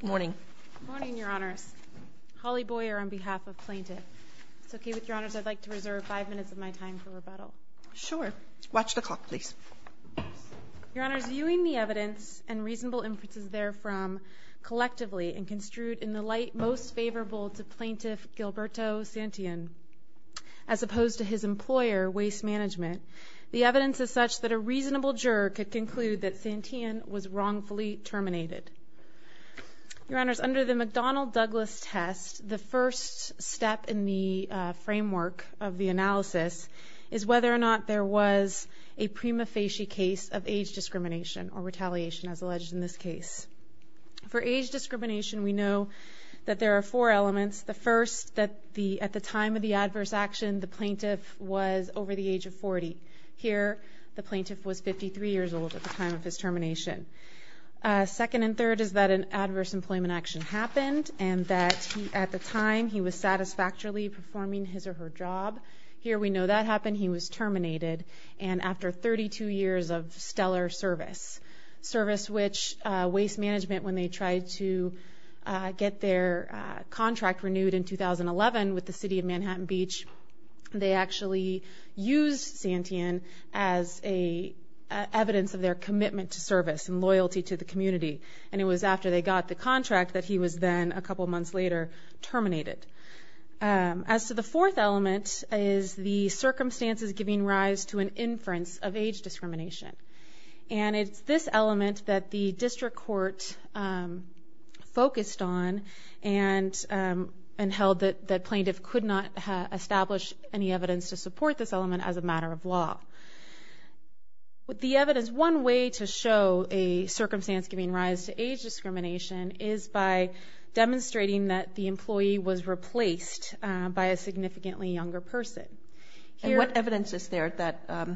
Good morning. Good morning, Your Honors. Holly Boyer on behalf of Plaintiff. It's okay with Your Honors, I'd like to reserve five minutes of my time for rebuttal. Sure. Watch the clock, please. Your Honors, viewing the evidence and reasonable inferences therefrom collectively and construed in the light most favorable to Plaintiff Gilberto Santillan, as opposed to his employer, Waste Management, the evidence is such that a reasonable juror could conclude that Santillan was wrongfully terminated. Your Honors, under the McDonnell-Douglas test, the first step in the framework of the analysis is whether or not there was a prima facie case of age discrimination or retaliation, as alleged in this case. For age discrimination, we know that there are four elements. The first, that at the time of the adverse action, the plaintiff was over the age of 40. Here, the plaintiff was 53 years old at the time of his termination. Second and third is that an adverse employment action happened and that at the time he was satisfactorily performing his or her job. Here we know that happened, he was terminated. And after 32 years of stellar service, which Waste Management, when they tried to get their contract renewed in 2011 with the city of Manhattan Beach, they actually used Santillan as evidence of their commitment to service and loyalty to the community. And it was after they got the contract that he was then, a couple months later, terminated. As to the fourth element is the circumstances giving rise to an inference of age discrimination. And it's this element that the district court focused on and held that plaintiff could not establish any evidence to support this element as a matter of law. The evidence, one way to show a circumstance giving rise to age discrimination is by demonstrating that the employee was replaced by a significantly younger person. And what evidence is there that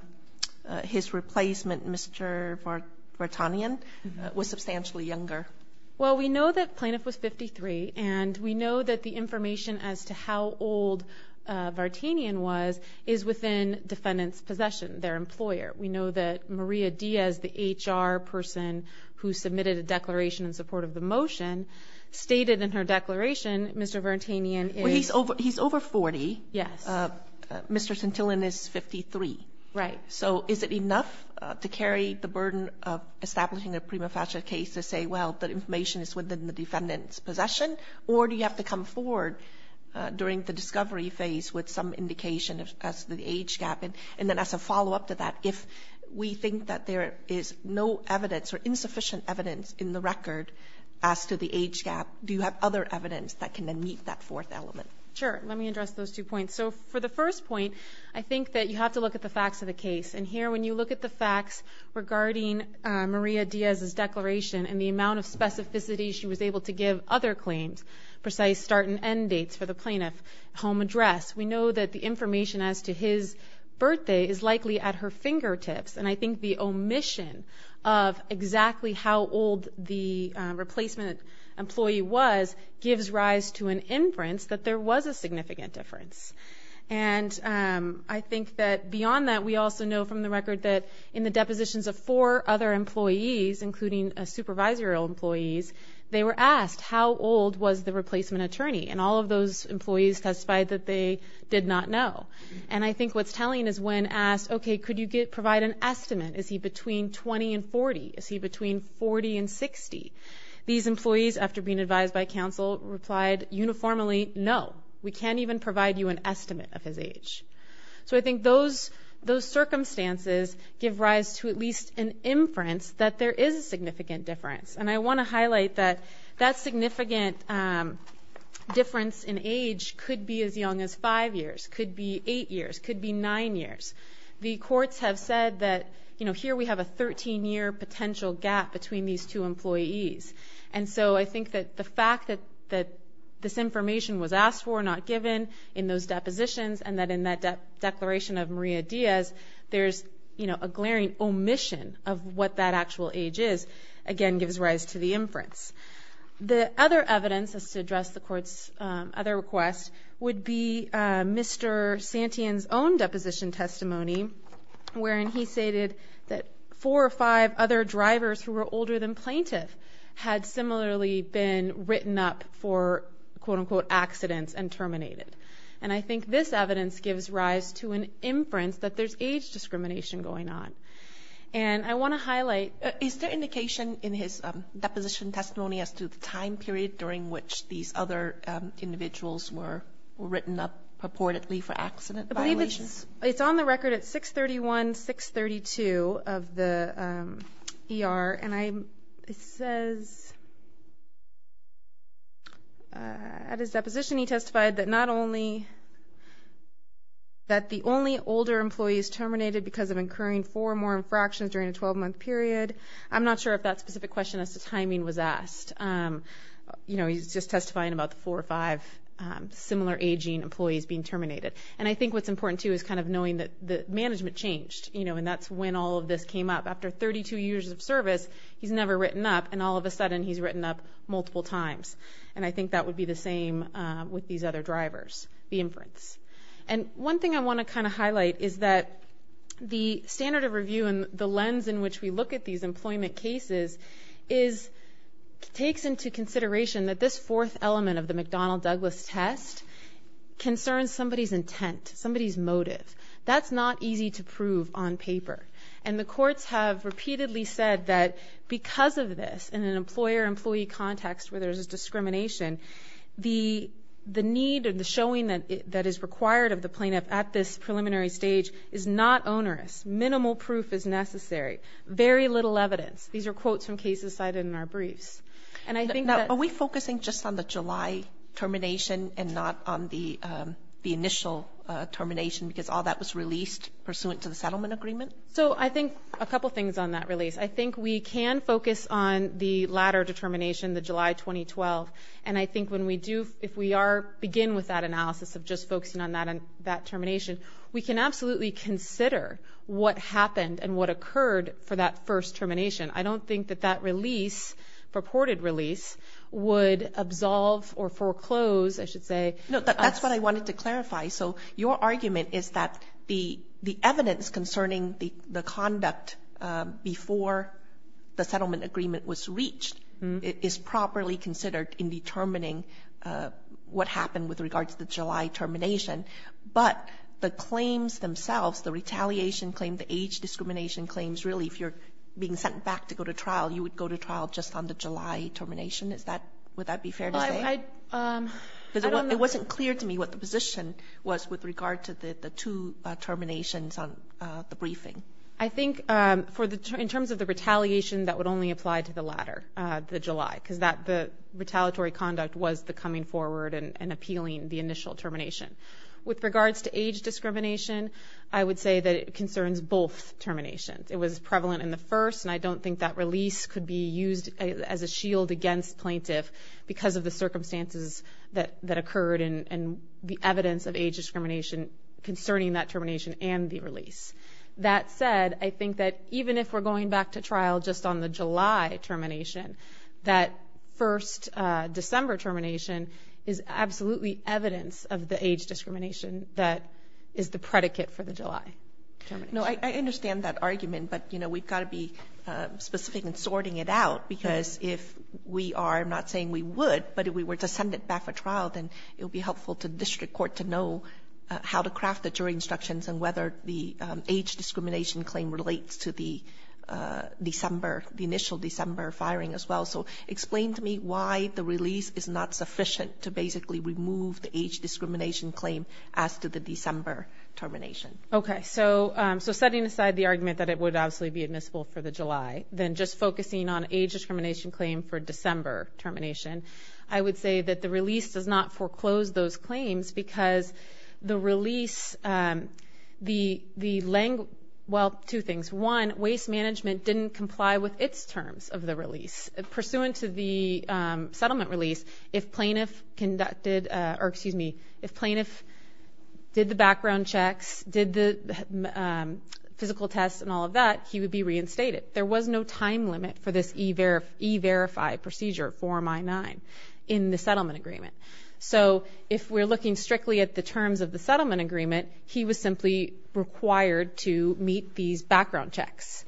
his replacement, Mr. Vartanian, was substantially younger? Well, we know that plaintiff was 53 and we know that the information as to how old Vartanian was is within defendant's possession, their employer. We know that Maria Diaz, the HR person who submitted a declaration in support of the motion, stated in her declaration, Mr. Vartanian is... Mr. Santillan is 53. Right. So is it enough to carry the burden of establishing a prima facie case to say, well, the information is within the defendant's possession? Or do you have to come forward during the discovery phase with some indication as to the age gap? And then as a follow-up to that, if we think that there is no evidence or insufficient evidence in the record as to the age gap, do you have other evidence that can then meet that fourth element? Sure. Let me address those two points. So for the first point, I think that you have to look at the facts of the case. And here when you look at the facts regarding Maria Diaz's declaration and the amount of specificity she was able to give other claims, precise start and end dates for the plaintiff, home address, we know that the information as to his birthday is likely at her fingertips. And I think the omission of exactly how old the replacement employee was gives rise to an inference that there was a significant difference. And I think that beyond that, we also know from the record that in the depositions of four other employees, including supervisorial employees, they were asked how old was the replacement attorney. And all of those employees testified that they did not know. And I think what's telling is when asked, okay, could you provide an estimate? Is he between 20 and 40? Is he between 40 and 60? These employees, after being advised by counsel, replied uniformly, no. We can't even provide you an estimate of his age. So I think those circumstances give rise to at least an inference that there is a significant difference. And I want to highlight that that significant difference in age could be as young as 5 years, could be 8 years, could be 9 years. The courts have said that here we have a 13-year potential gap between these two employees. And so I think that the fact that this information was asked for, not given in those depositions, and that in that declaration of Maria Diaz there's a glaring omission of what that actual age is, again gives rise to the inference. The other evidence as to address the court's other request would be Mr. Santian's own deposition testimony, wherein he stated that four or five other drivers who were older than plaintiff had similarly been written up for, quote-unquote, accidents and terminated. And I think this evidence gives rise to an inference that there's age discrimination going on. And I want to highlight, is there indication in his deposition testimony as to the time period during which these other individuals were written up purportedly for accident violations? I believe it's on the record at 631, 632 of the ER. And it says at his deposition he testified that not only that the only older employees terminated because of incurring four or more infractions during a 12-month period. I'm not sure if that specific question as to timing was asked. You know, he's just testifying about the four or five similar aging employees being terminated. And I think what's important, too, is kind of knowing that the management changed, you know, and that's when all of this came up. After 32 years of service, he's never written up, and all of a sudden he's written up multiple times. And I think that would be the same with these other drivers, the inference. And one thing I want to kind of highlight is that the standard of review and the lens in which we look at these employment cases takes into consideration that this fourth element of the McDonnell-Douglas test concerns somebody's intent, somebody's motive. That's not easy to prove on paper. And the courts have repeatedly said that because of this, in an employer-employee context where there's discrimination, the need and the showing that is required of the plaintiff at this preliminary stage is not onerous. Minimal proof is necessary. Very little evidence. These are quotes from cases cited in our briefs. Are we focusing just on the July termination and not on the initial termination because all that was released pursuant to the settlement agreement? So I think a couple things on that release. I think we can focus on the latter determination, the July 2012. And I think when we do, if we begin with that analysis of just focusing on that termination, we can absolutely consider what happened and what occurred for that first termination. I don't think that that release, purported release, would absolve or foreclose, I should say. So your argument is that the evidence concerning the conduct before the settlement agreement was reached is properly considered in determining what happened with regards to the July termination. But the claims themselves, the retaliation claim, the age discrimination claims, really if you're being sent back to go to trial, you would go to trial just on the July termination. Would that be fair to say? It wasn't clear to me what the position was with regard to the two terminations on the briefing. I think in terms of the retaliation, that would only apply to the latter, the July, because the retaliatory conduct was the coming forward and appealing the initial termination. With regards to age discrimination, I would say that it concerns both terminations. It was prevalent in the first, and I don't think that release could be used as a shield against plaintiff because of the circumstances that occurred and the evidence of age discrimination concerning that termination and the release. That said, I think that even if we're going back to trial just on the July termination, that first December termination is absolutely evidence of the age discrimination that is the predicate for the July termination. No, I understand that argument, but, you know, we've got to be specific in sorting it out because if we are, I'm not saying we would, but if we were to send it back for trial, then it would be helpful to the district court to know how to craft the jury instructions and whether the age discrimination claim relates to the December, the initial December firing as well. So explain to me why the release is not sufficient to basically remove the age discrimination claim as to the December termination. Okay, so setting aside the argument that it would obviously be admissible for the July, then just focusing on age discrimination claim for December termination, I would say that the release does not foreclose those claims because the release, well, two things. One, waste management didn't comply with its terms of the release. Pursuant to the settlement release, if plaintiff did the background checks, did the physical tests and all of that, he would be reinstated. There was no time limit for this e-verify procedure, Form I-9, in the settlement agreement. So if we're looking strictly at the terms of the settlement agreement, he was simply required to meet these background checks.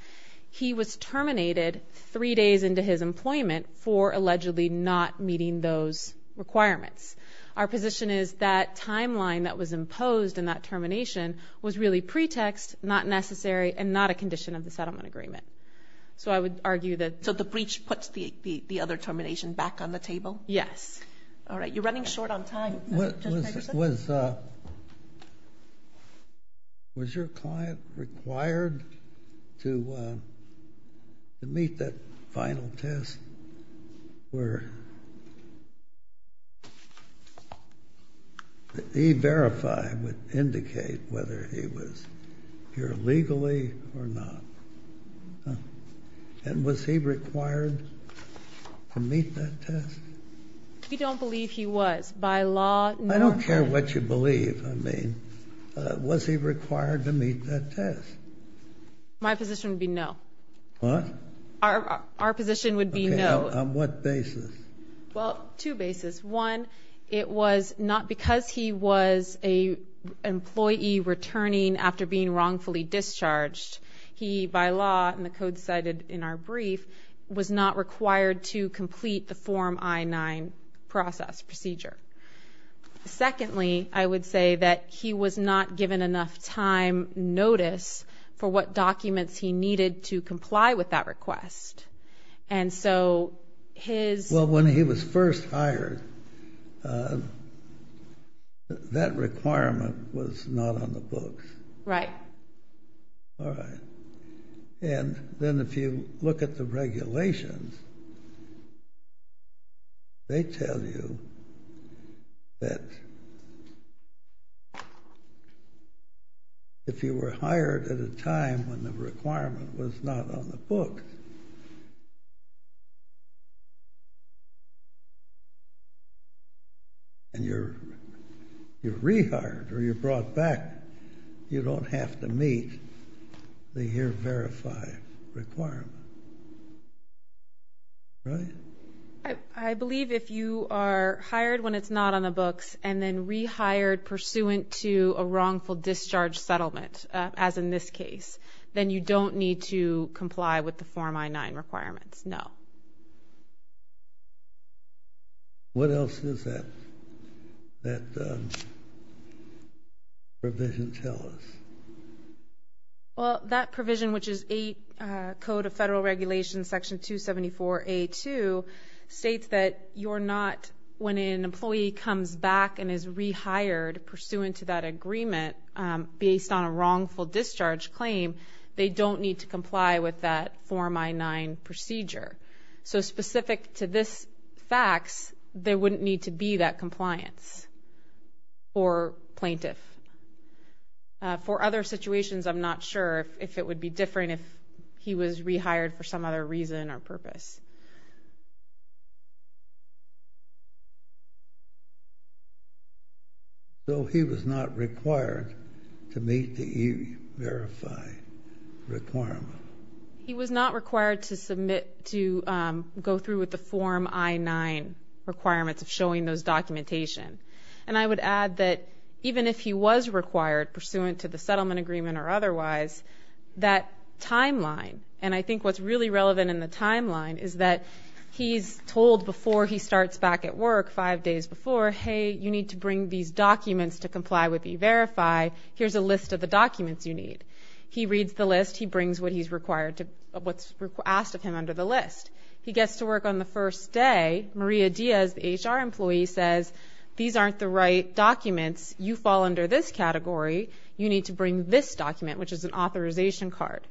He was terminated three days into his employment for allegedly not meeting those requirements. Our position is that timeline that was imposed in that termination was really pretext, not necessary, and not a condition of the settlement agreement. So I would argue that the breach puts the other termination back on the table. Yes. All right, you're running short on time, Judge Ferguson. Was your client required to meet that final test where e-verify would indicate whether he was here legally or not? And was he required to meet that test? We don't believe he was. By law, no. I don't care what you believe. I mean, was he required to meet that test? My position would be no. What? Our position would be no. Okay. On what basis? Well, two basis. One, it was not because he was an employee returning after being wrongfully discharged. He, by law, and the code cited in our brief, was not required to complete the Form I-9 process, procedure. Secondly, I would say that he was not given enough time notice for what documents he needed to comply with that request. And so his... Well, when he was first hired, that requirement was not on the books. Right. All right. And then if you look at the regulations, they tell you that if you were hired at a time when the requirement was not on the book, and you're rehired or you're brought back, you don't have to meet the here-verified requirement. Right? I believe if you are hired when it's not on the books and then rehired pursuant to a wrongful discharge settlement, as in this case, then you don't need to comply with the Form I-9 requirements. No. What else does that provision tell us? Well, that provision, which is 8 Code of Federal Regulations, Section 274A-2, states that you're not, when an employee comes back and is rehired pursuant to that agreement based on a wrongful discharge claim, they don't need to comply with that Form I-9 procedure. So specific to this fax, there wouldn't need to be that compliance for plaintiff. For other situations, I'm not sure if it would be different if he was rehired for some other reason or purpose. So he was not required to meet the here-verified requirement? He was not required to go through with the Form I-9 requirements of showing those documentation. And I would add that even if he was required pursuant to the settlement agreement or otherwise, that timeline, and I think what's really relevant in the timeline is that he's told before he starts back at work, five days before, hey, you need to bring these documents to comply with e-Verify. Here's a list of the documents you need. He reads the list. He brings what he's required to, what's asked of him under the list. He gets to work on the first day. Maria Diaz, the HR employee, says, these aren't the right documents. You fall under this category. You need to bring this document, which is an authorization card.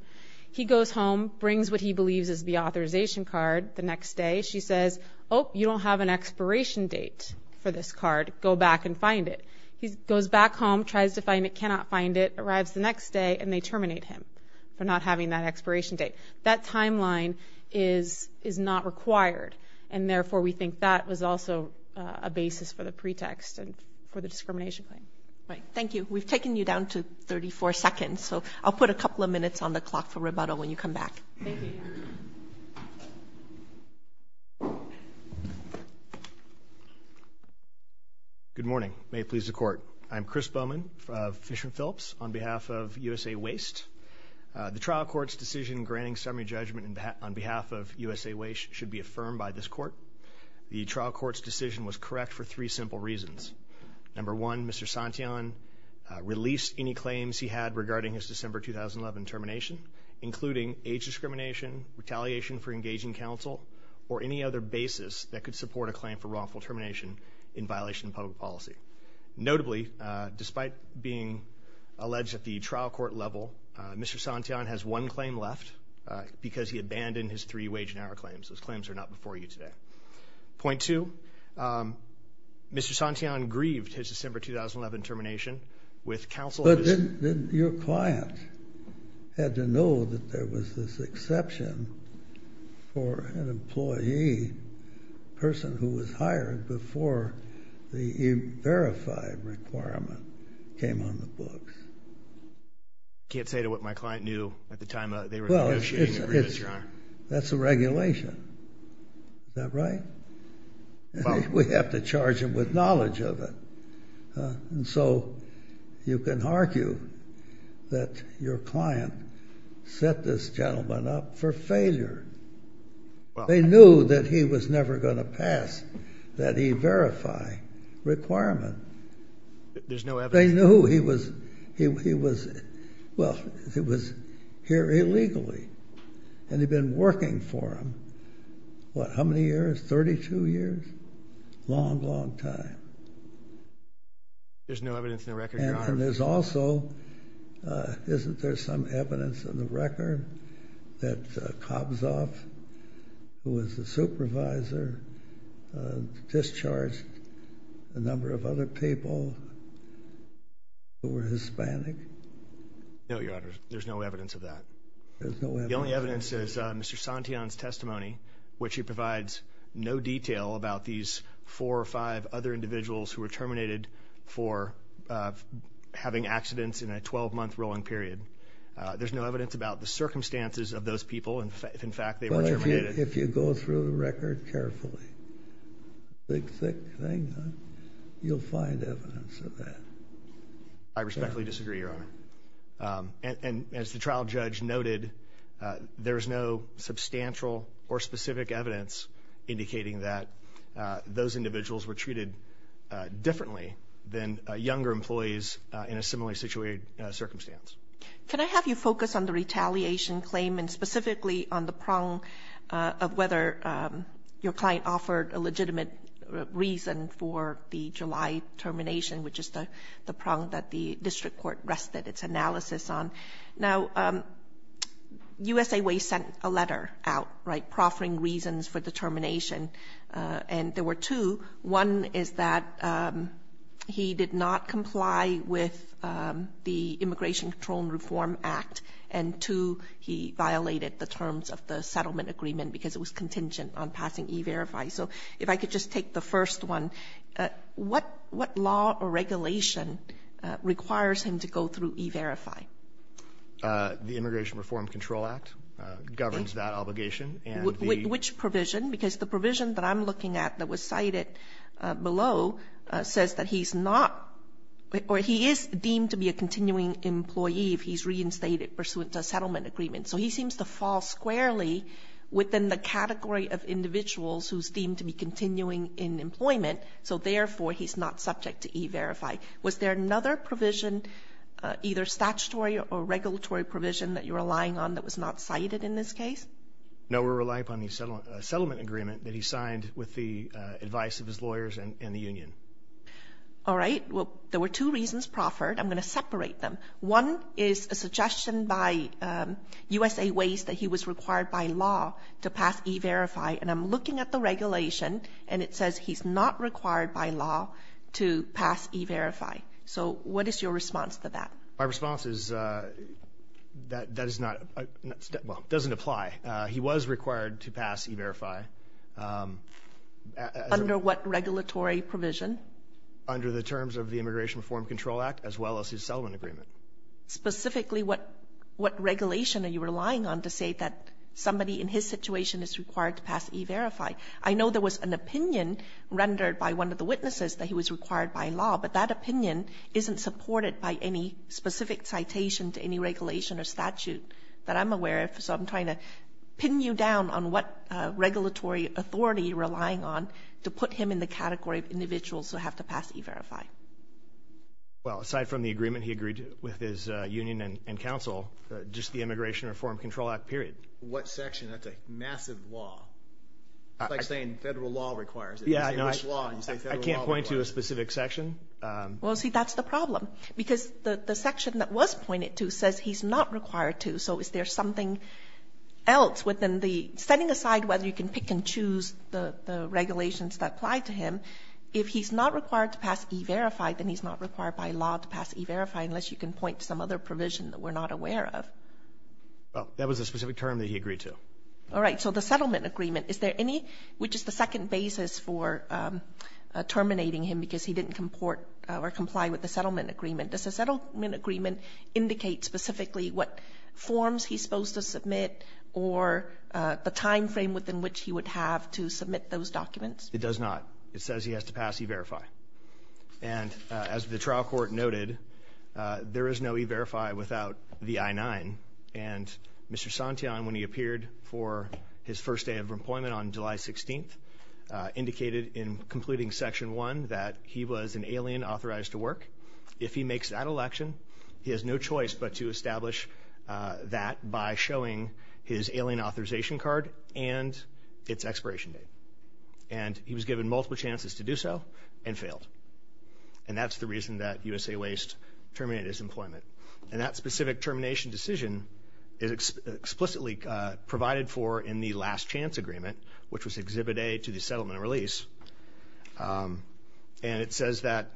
He goes home, brings what he believes is the authorization card the next day. She says, oh, you don't have an expiration date for this card. Go back and find it. He goes back home, tries to find it, cannot find it, arrives the next day, and they terminate him for not having that expiration date. That timeline is not required, and therefore we think that was also a basis for the pretext and for the discrimination claim. All right, thank you. We've taken you down to 34 seconds, so I'll put a couple of minutes on the clock for rebuttal when you come back. Thank you. Good morning. May it please the Court. I'm Chris Bowman of Fisher & Phillips on behalf of USA Waste. The trial court's decision granting summary judgment on behalf of USA Waste should be affirmed by this court. The trial court's decision was correct for three simple reasons. Number one, Mr. Santian released any claims he had regarding his December 2011 termination, including age discrimination, retaliation for engaging counsel, or any other basis that could support a claim for wrongful termination in violation of public policy. Notably, despite being alleged at the trial court level, Mr. Santian has one claim left because he abandoned his three wage and hour claims. Those claims are not before you today. Point two, Mr. Santian grieved his December 2011 termination with counsel. But didn't your client have to know that there was this exception for an employee, a person who was hired before the verified requirement came on the books? I can't say to what my client knew at the time they were negotiating the grievance, Your Honor. That's a regulation. Is that right? We have to charge him with knowledge of it. And so you can argue that your client set this gentleman up for failure. They knew that he was never going to pass that e-verify requirement. There's no evidence. But they knew he was here illegally. And they've been working for him, what, how many years, 32 years? Long, long time. There's no evidence in the record, Your Honor. And there's also, isn't there some evidence in the record that Kobzoff, who was the supervisor, discharged a number of other people who were Hispanic? No, Your Honor. There's no evidence of that. The only evidence is Mr. Santian's testimony, which he provides no detail about these four or five other individuals who were terminated for having accidents in a 12-month rolling period. There's no evidence about the circumstances of those people, if in fact they were terminated. Well, if you go through the record carefully, thick, thick thing, you'll find evidence of that. I respectfully disagree, Your Honor. And as the trial judge noted, there's no substantial or specific evidence indicating that those individuals were treated differently than younger employees in a similarly situated circumstance. Can I have you focus on the retaliation claim and specifically on the prong of whether your client offered a legitimate reason for the July termination, which is the prong that the district court rested its analysis on? Now, USA Way sent a letter out, right, proffering reasons for the termination. And there were two. One is that he did not comply with the Immigration Control and Reform Act. And two, he violated the terms of the settlement agreement because it was contingent on passing E-Verify. So if I could just take the first one. What law or regulation requires him to go through E-Verify? The Immigration Reform and Control Act governs that obligation. Which provision? Because the provision that I'm looking at that was cited below says that he's not or he is deemed to be a continuing employee if he's reinstated pursuant to a settlement agreement. So he seems to fall squarely within the category of individuals who's deemed to be continuing in employment. So therefore, he's not subject to E-Verify. Was there another provision, either statutory or regulatory provision, that you're relying on that was not cited in this case? No, we're relying upon the settlement agreement that he signed with the advice of his lawyers and the union. All right. Well, there were two reasons proffered. I'm going to separate them. One is a suggestion by USA Waste that he was required by law to pass E-Verify. And I'm looking at the regulation, and it says he's not required by law to pass E-Verify. So what is your response to that? My response is that that is not – well, it doesn't apply. He was required to pass E-Verify. Under what regulatory provision? Under the terms of the Immigration Reform Control Act, as well as his settlement agreement. Specifically, what regulation are you relying on to say that somebody in his situation is required to pass E-Verify? I know there was an opinion rendered by one of the witnesses that he was required by law, but that opinion isn't supported by any specific citation to any regulation or statute that I'm aware of. So I'm trying to pin you down on what regulatory authority you're relying on to put him in the category of individuals who have to pass E-Verify. Well, aside from the agreement he agreed with his union and council, just the Immigration Reform Control Act, period. What section? That's a massive law. It's like saying federal law requires it. I can't point to a specific section. Well, see, that's the problem. Because the section that was pointed to says he's not required to, so is there something else within the – setting aside whether you can pick and choose the regulations that apply to him, if he's not required to pass E-Verify, then he's not required by law to pass E-Verify unless you can point to some other provision that we're not aware of. Well, that was a specific term that he agreed to. All right, so the settlement agreement. Is there any – which is the second basis for terminating him because he didn't comport or comply with the settlement agreement. Does the settlement agreement indicate specifically what forms he's supposed to submit or the timeframe within which he would have to submit those documents? It does not. It says he has to pass E-Verify. And as the trial court noted, there is no E-Verify without the I-9. And Mr. Santeon, when he appeared for his first day of employment on July 16th, indicated in completing Section 1 that he was an alien authorized to work. If he makes that election, he has no choice but to establish that by showing his alien authorization card and its expiration date. And he was given multiple chances to do so and failed. And that's the reason that USA Waste terminated his employment. And that specific termination decision is explicitly provided for in the last chance agreement, which was Exhibit A to the settlement release. And it says that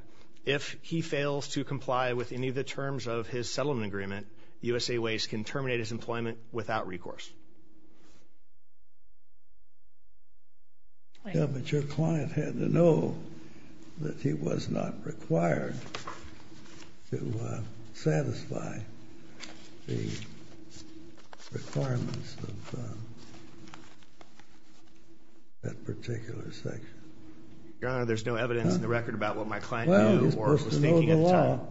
if he fails to comply with any of the terms of his settlement agreement, USA Waste can terminate his employment without recourse. But your client had to know that he was not required to satisfy the requirements of that particular section. Your Honor, there's no evidence in the record about what my client knew or was thinking at the time. Well,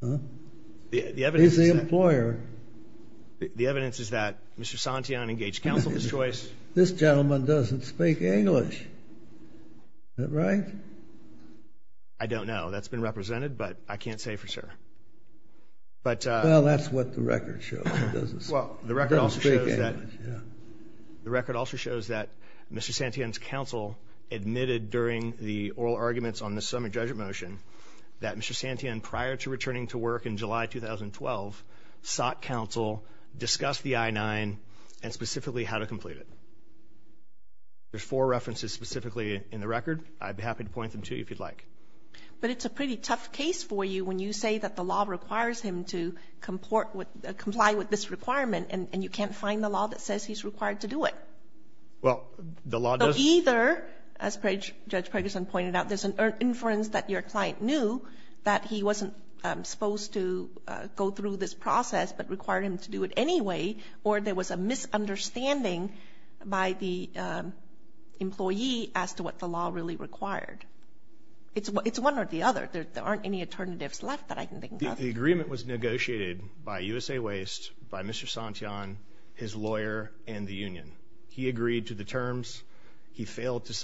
he's supposed to know the law. He's the employer. The evidence is that Mr. Santian engaged counsel of his choice. This gentleman doesn't speak English. Is that right? I don't know. That's been represented, but I can't say for sure. Well, that's what the record shows. He doesn't speak English. The record also shows that Mr. Santian's counsel admitted during the oral arguments that Mr. Santian, prior to returning to work in July 2012, sought counsel, discussed the I-9, and specifically how to complete it. There's four references specifically in the record. I'd be happy to point them to you if you'd like. But it's a pretty tough case for you when you say that the law requires him to comply with this requirement, and you can't find the law that says he's required to do it. Well, the law does. Either, as Judge Preggerson pointed out, there's an inference that your client knew that he wasn't supposed to go through this process but required him to do it anyway, or there was a misunderstanding by the employee as to what the law really required. It's one or the other. There aren't any alternatives left that I can think of. The agreement was negotiated by USA Waste, by Mr. Santian, his lawyer, and the union. He agreed to the terms. He failed to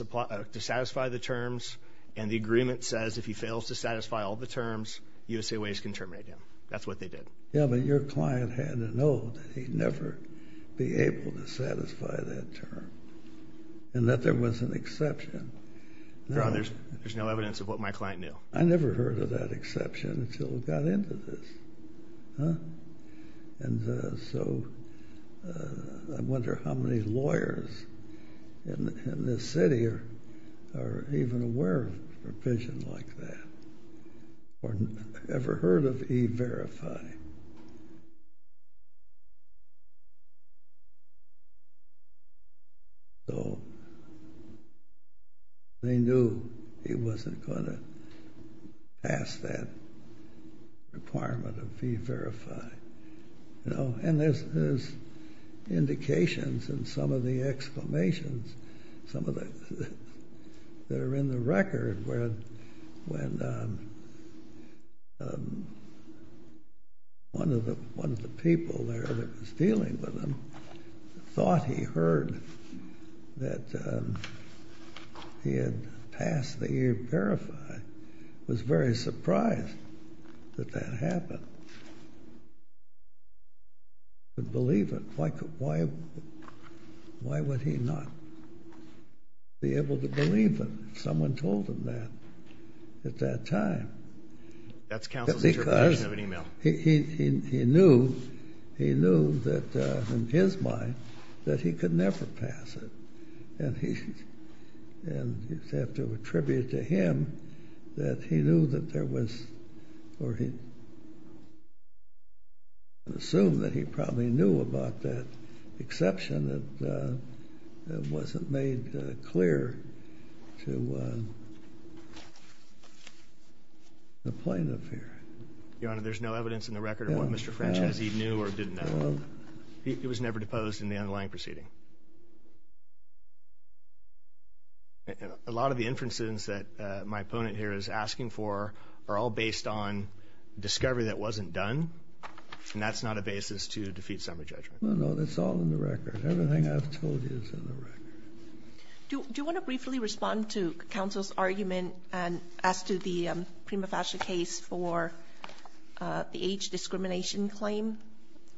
satisfy the terms. And the agreement says if he fails to satisfy all the terms, USA Waste can terminate him. That's what they did. Yeah, but your client had to know that he'd never be able to satisfy that term and that there was an exception. No, there's no evidence of what my client knew. I never heard of that exception until we got into this. And so I wonder how many lawyers in this city are even aware of provisions like that or ever heard of E-Verify. So they knew he wasn't going to pass that requirement of E-Verify. And there's indications in some of the exclamations that are in the record where one of the people there that was dealing with him thought he heard that he had passed the E-Verify. He was very surprised that that happened. He couldn't believe it. Why would he not be able to believe it? Because someone told him that at that time. That's counsel's interpretation of an e-mail. Because he knew that in his mind that he could never pass it. And you have to attribute to him that he knew that there was or he assumed that he probably knew about that exception that wasn't made clear to the plaintiff here. Your Honor, there's no evidence in the record of what Mr. French has. He knew or didn't know. It was never deposed in the underlying proceeding. A lot of the inferences that my opponent here is asking for are all based on discovery that wasn't done. And that's not a basis to defeat summary judgment. No, that's all in the record. Everything I've told you is in the record. Do you want to briefly respond to counsel's argument as to the prima facie case for the age discrimination claim,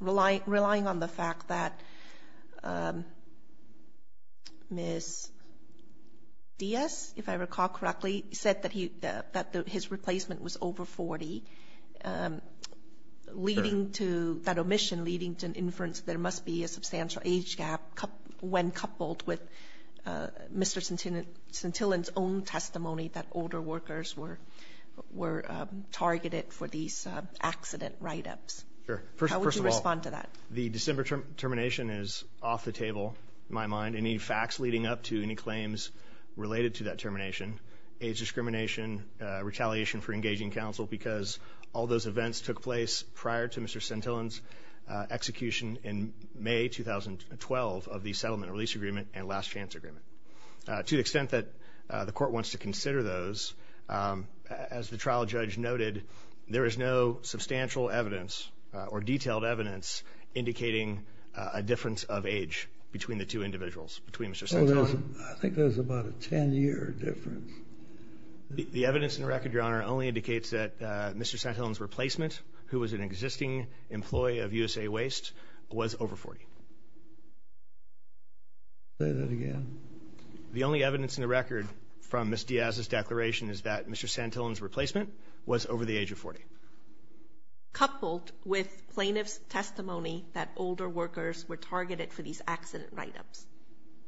relying on the fact that Ms. Diaz, if I recall correctly, said that his replacement was over 40, that omission leading to an inference that there must be a substantial age gap when coupled with Mr. Santillan's own testimony that older workers were targeted for these accident write-ups. How would you respond to that? The December termination is off the table in my mind. Any facts leading up to any claims related to that termination, age discrimination, retaliation for engaging counsel because all those events took place prior to Mr. Santillan's execution in May 2012 of the settlement release agreement and last chance agreement. To the extent that the court wants to consider those, as the trial judge noted, there is no substantial evidence or detailed evidence indicating a difference of age between the two individuals, between Mr. Santillan. I think there's about a 10-year difference. The evidence in the record, Your Honor, only indicates that Mr. Santillan's replacement, who was an existing employee of USA Waste, was over 40. Say that again. The only evidence in the record from Ms. Diaz's declaration is that Mr. Santillan's replacement was over the age of 40. Coupled with plaintiff's testimony that older workers were targeted for these accident write-ups.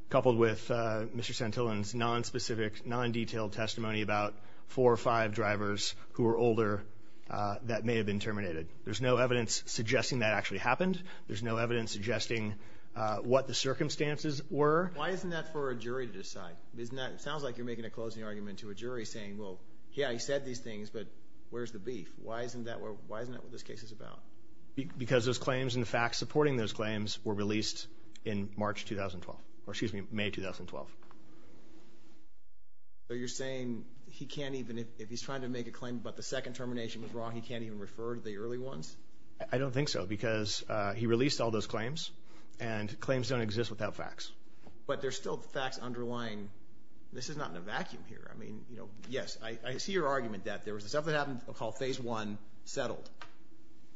Coupled with Mr. Santillan's nonspecific, non-detailed testimony about four or five drivers who were older that may have been terminated. There's no evidence suggesting that actually happened. There's no evidence suggesting what the circumstances were. Why isn't that for a jury to decide? It sounds like you're making a closing argument to a jury saying, well, yeah, he said these things, but where's the beef? Why isn't that what this case is about? Because those claims and the facts supporting those claims were released in March 2012, or excuse me, May 2012. So you're saying he can't even, if he's trying to make a claim about the second termination was wrong, he can't even refer to the early ones? I don't think so, because he released all those claims, and claims don't exist without facts. But there's still facts underlying. This is not in a vacuum here. I mean, you know, yes, I see your argument that there was stuff that happened called Phase 1, settled.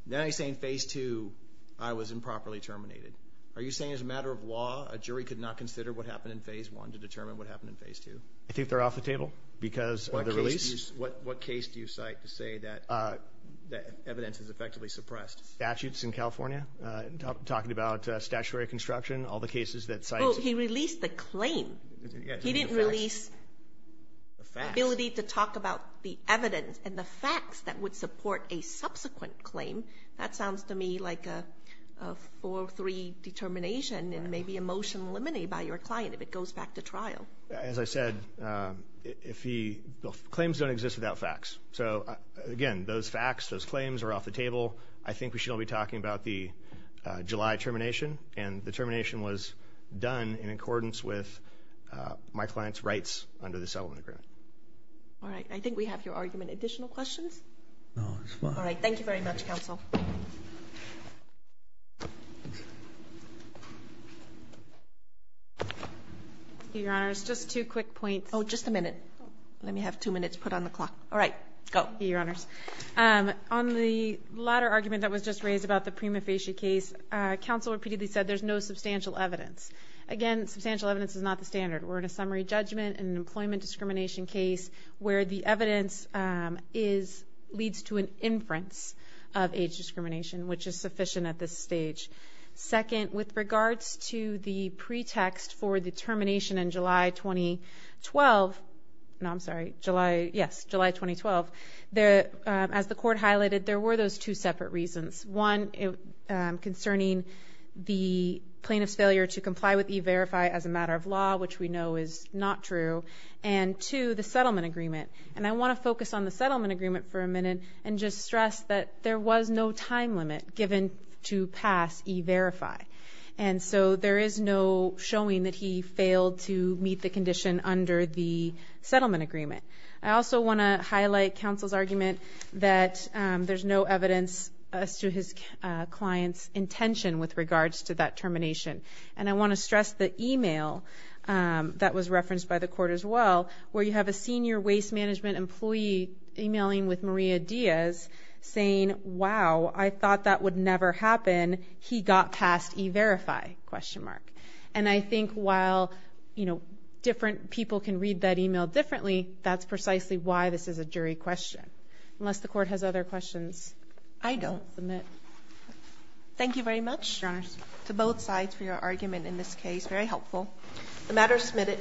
Now you're saying Phase 2, I was improperly terminated. Are you saying as a matter of law, a jury could not consider what happened in Phase 1 to determine what happened in Phase 2? I think they're off the table because of the release. What case do you cite to say that evidence is effectively suppressed? Statutes in California, talking about statutory construction, all the cases that cite... Well, he released the claim. He didn't release the ability to talk about the evidence and the facts that would support a subsequent claim. That sounds to me like a 4-3 determination and maybe a motion eliminated by your client if it goes back to trial. As I said, claims don't exist without facts. So again, those facts, those claims are off the table. I think we should all be talking about the July termination, and the termination was done in accordance with my client's rights under the settlement agreement. All right, I think we have your argument. Additional questions? No, it's fine. All right, thank you very much, counsel. Your Honors, just two quick points. Oh, just a minute. Let me have two minutes put on the clock. All right, go. Your Honors, on the latter argument that was just raised about the prima facie case, counsel repeatedly said there's no substantial evidence. Again, substantial evidence is not the standard. We're in a summary judgment in an employment discrimination case where the evidence leads to an inference of age discrimination, which is sufficient at this stage. Second, with regards to the pretext for the termination in July 2012, no, I'm sorry, yes, July 2012, as the court highlighted, there were those two separate reasons. One concerning the plaintiff's failure to comply with e-verify as a matter of law, which we know is not true, and two, the settlement agreement. And I want to focus on the settlement agreement for a minute and just stress that there was no time limit given to pass e-verify. And so there is no showing that he failed to meet the condition under the settlement agreement. I also want to highlight counsel's argument that there's no evidence as to his client's intention with regards to that termination. And I want to stress the e-mail that was referenced by the court as well, where you have a senior waste management employee e-mailing with Maria Diaz, saying, wow, I thought that would never happen. He got past e-verify? And I think while different people can read that e-mail differently, that's precisely why this is a jury question, unless the court has other questions. I don't. Thank you very much to both sides for your argument in this case. Very helpful. The matter is submitted.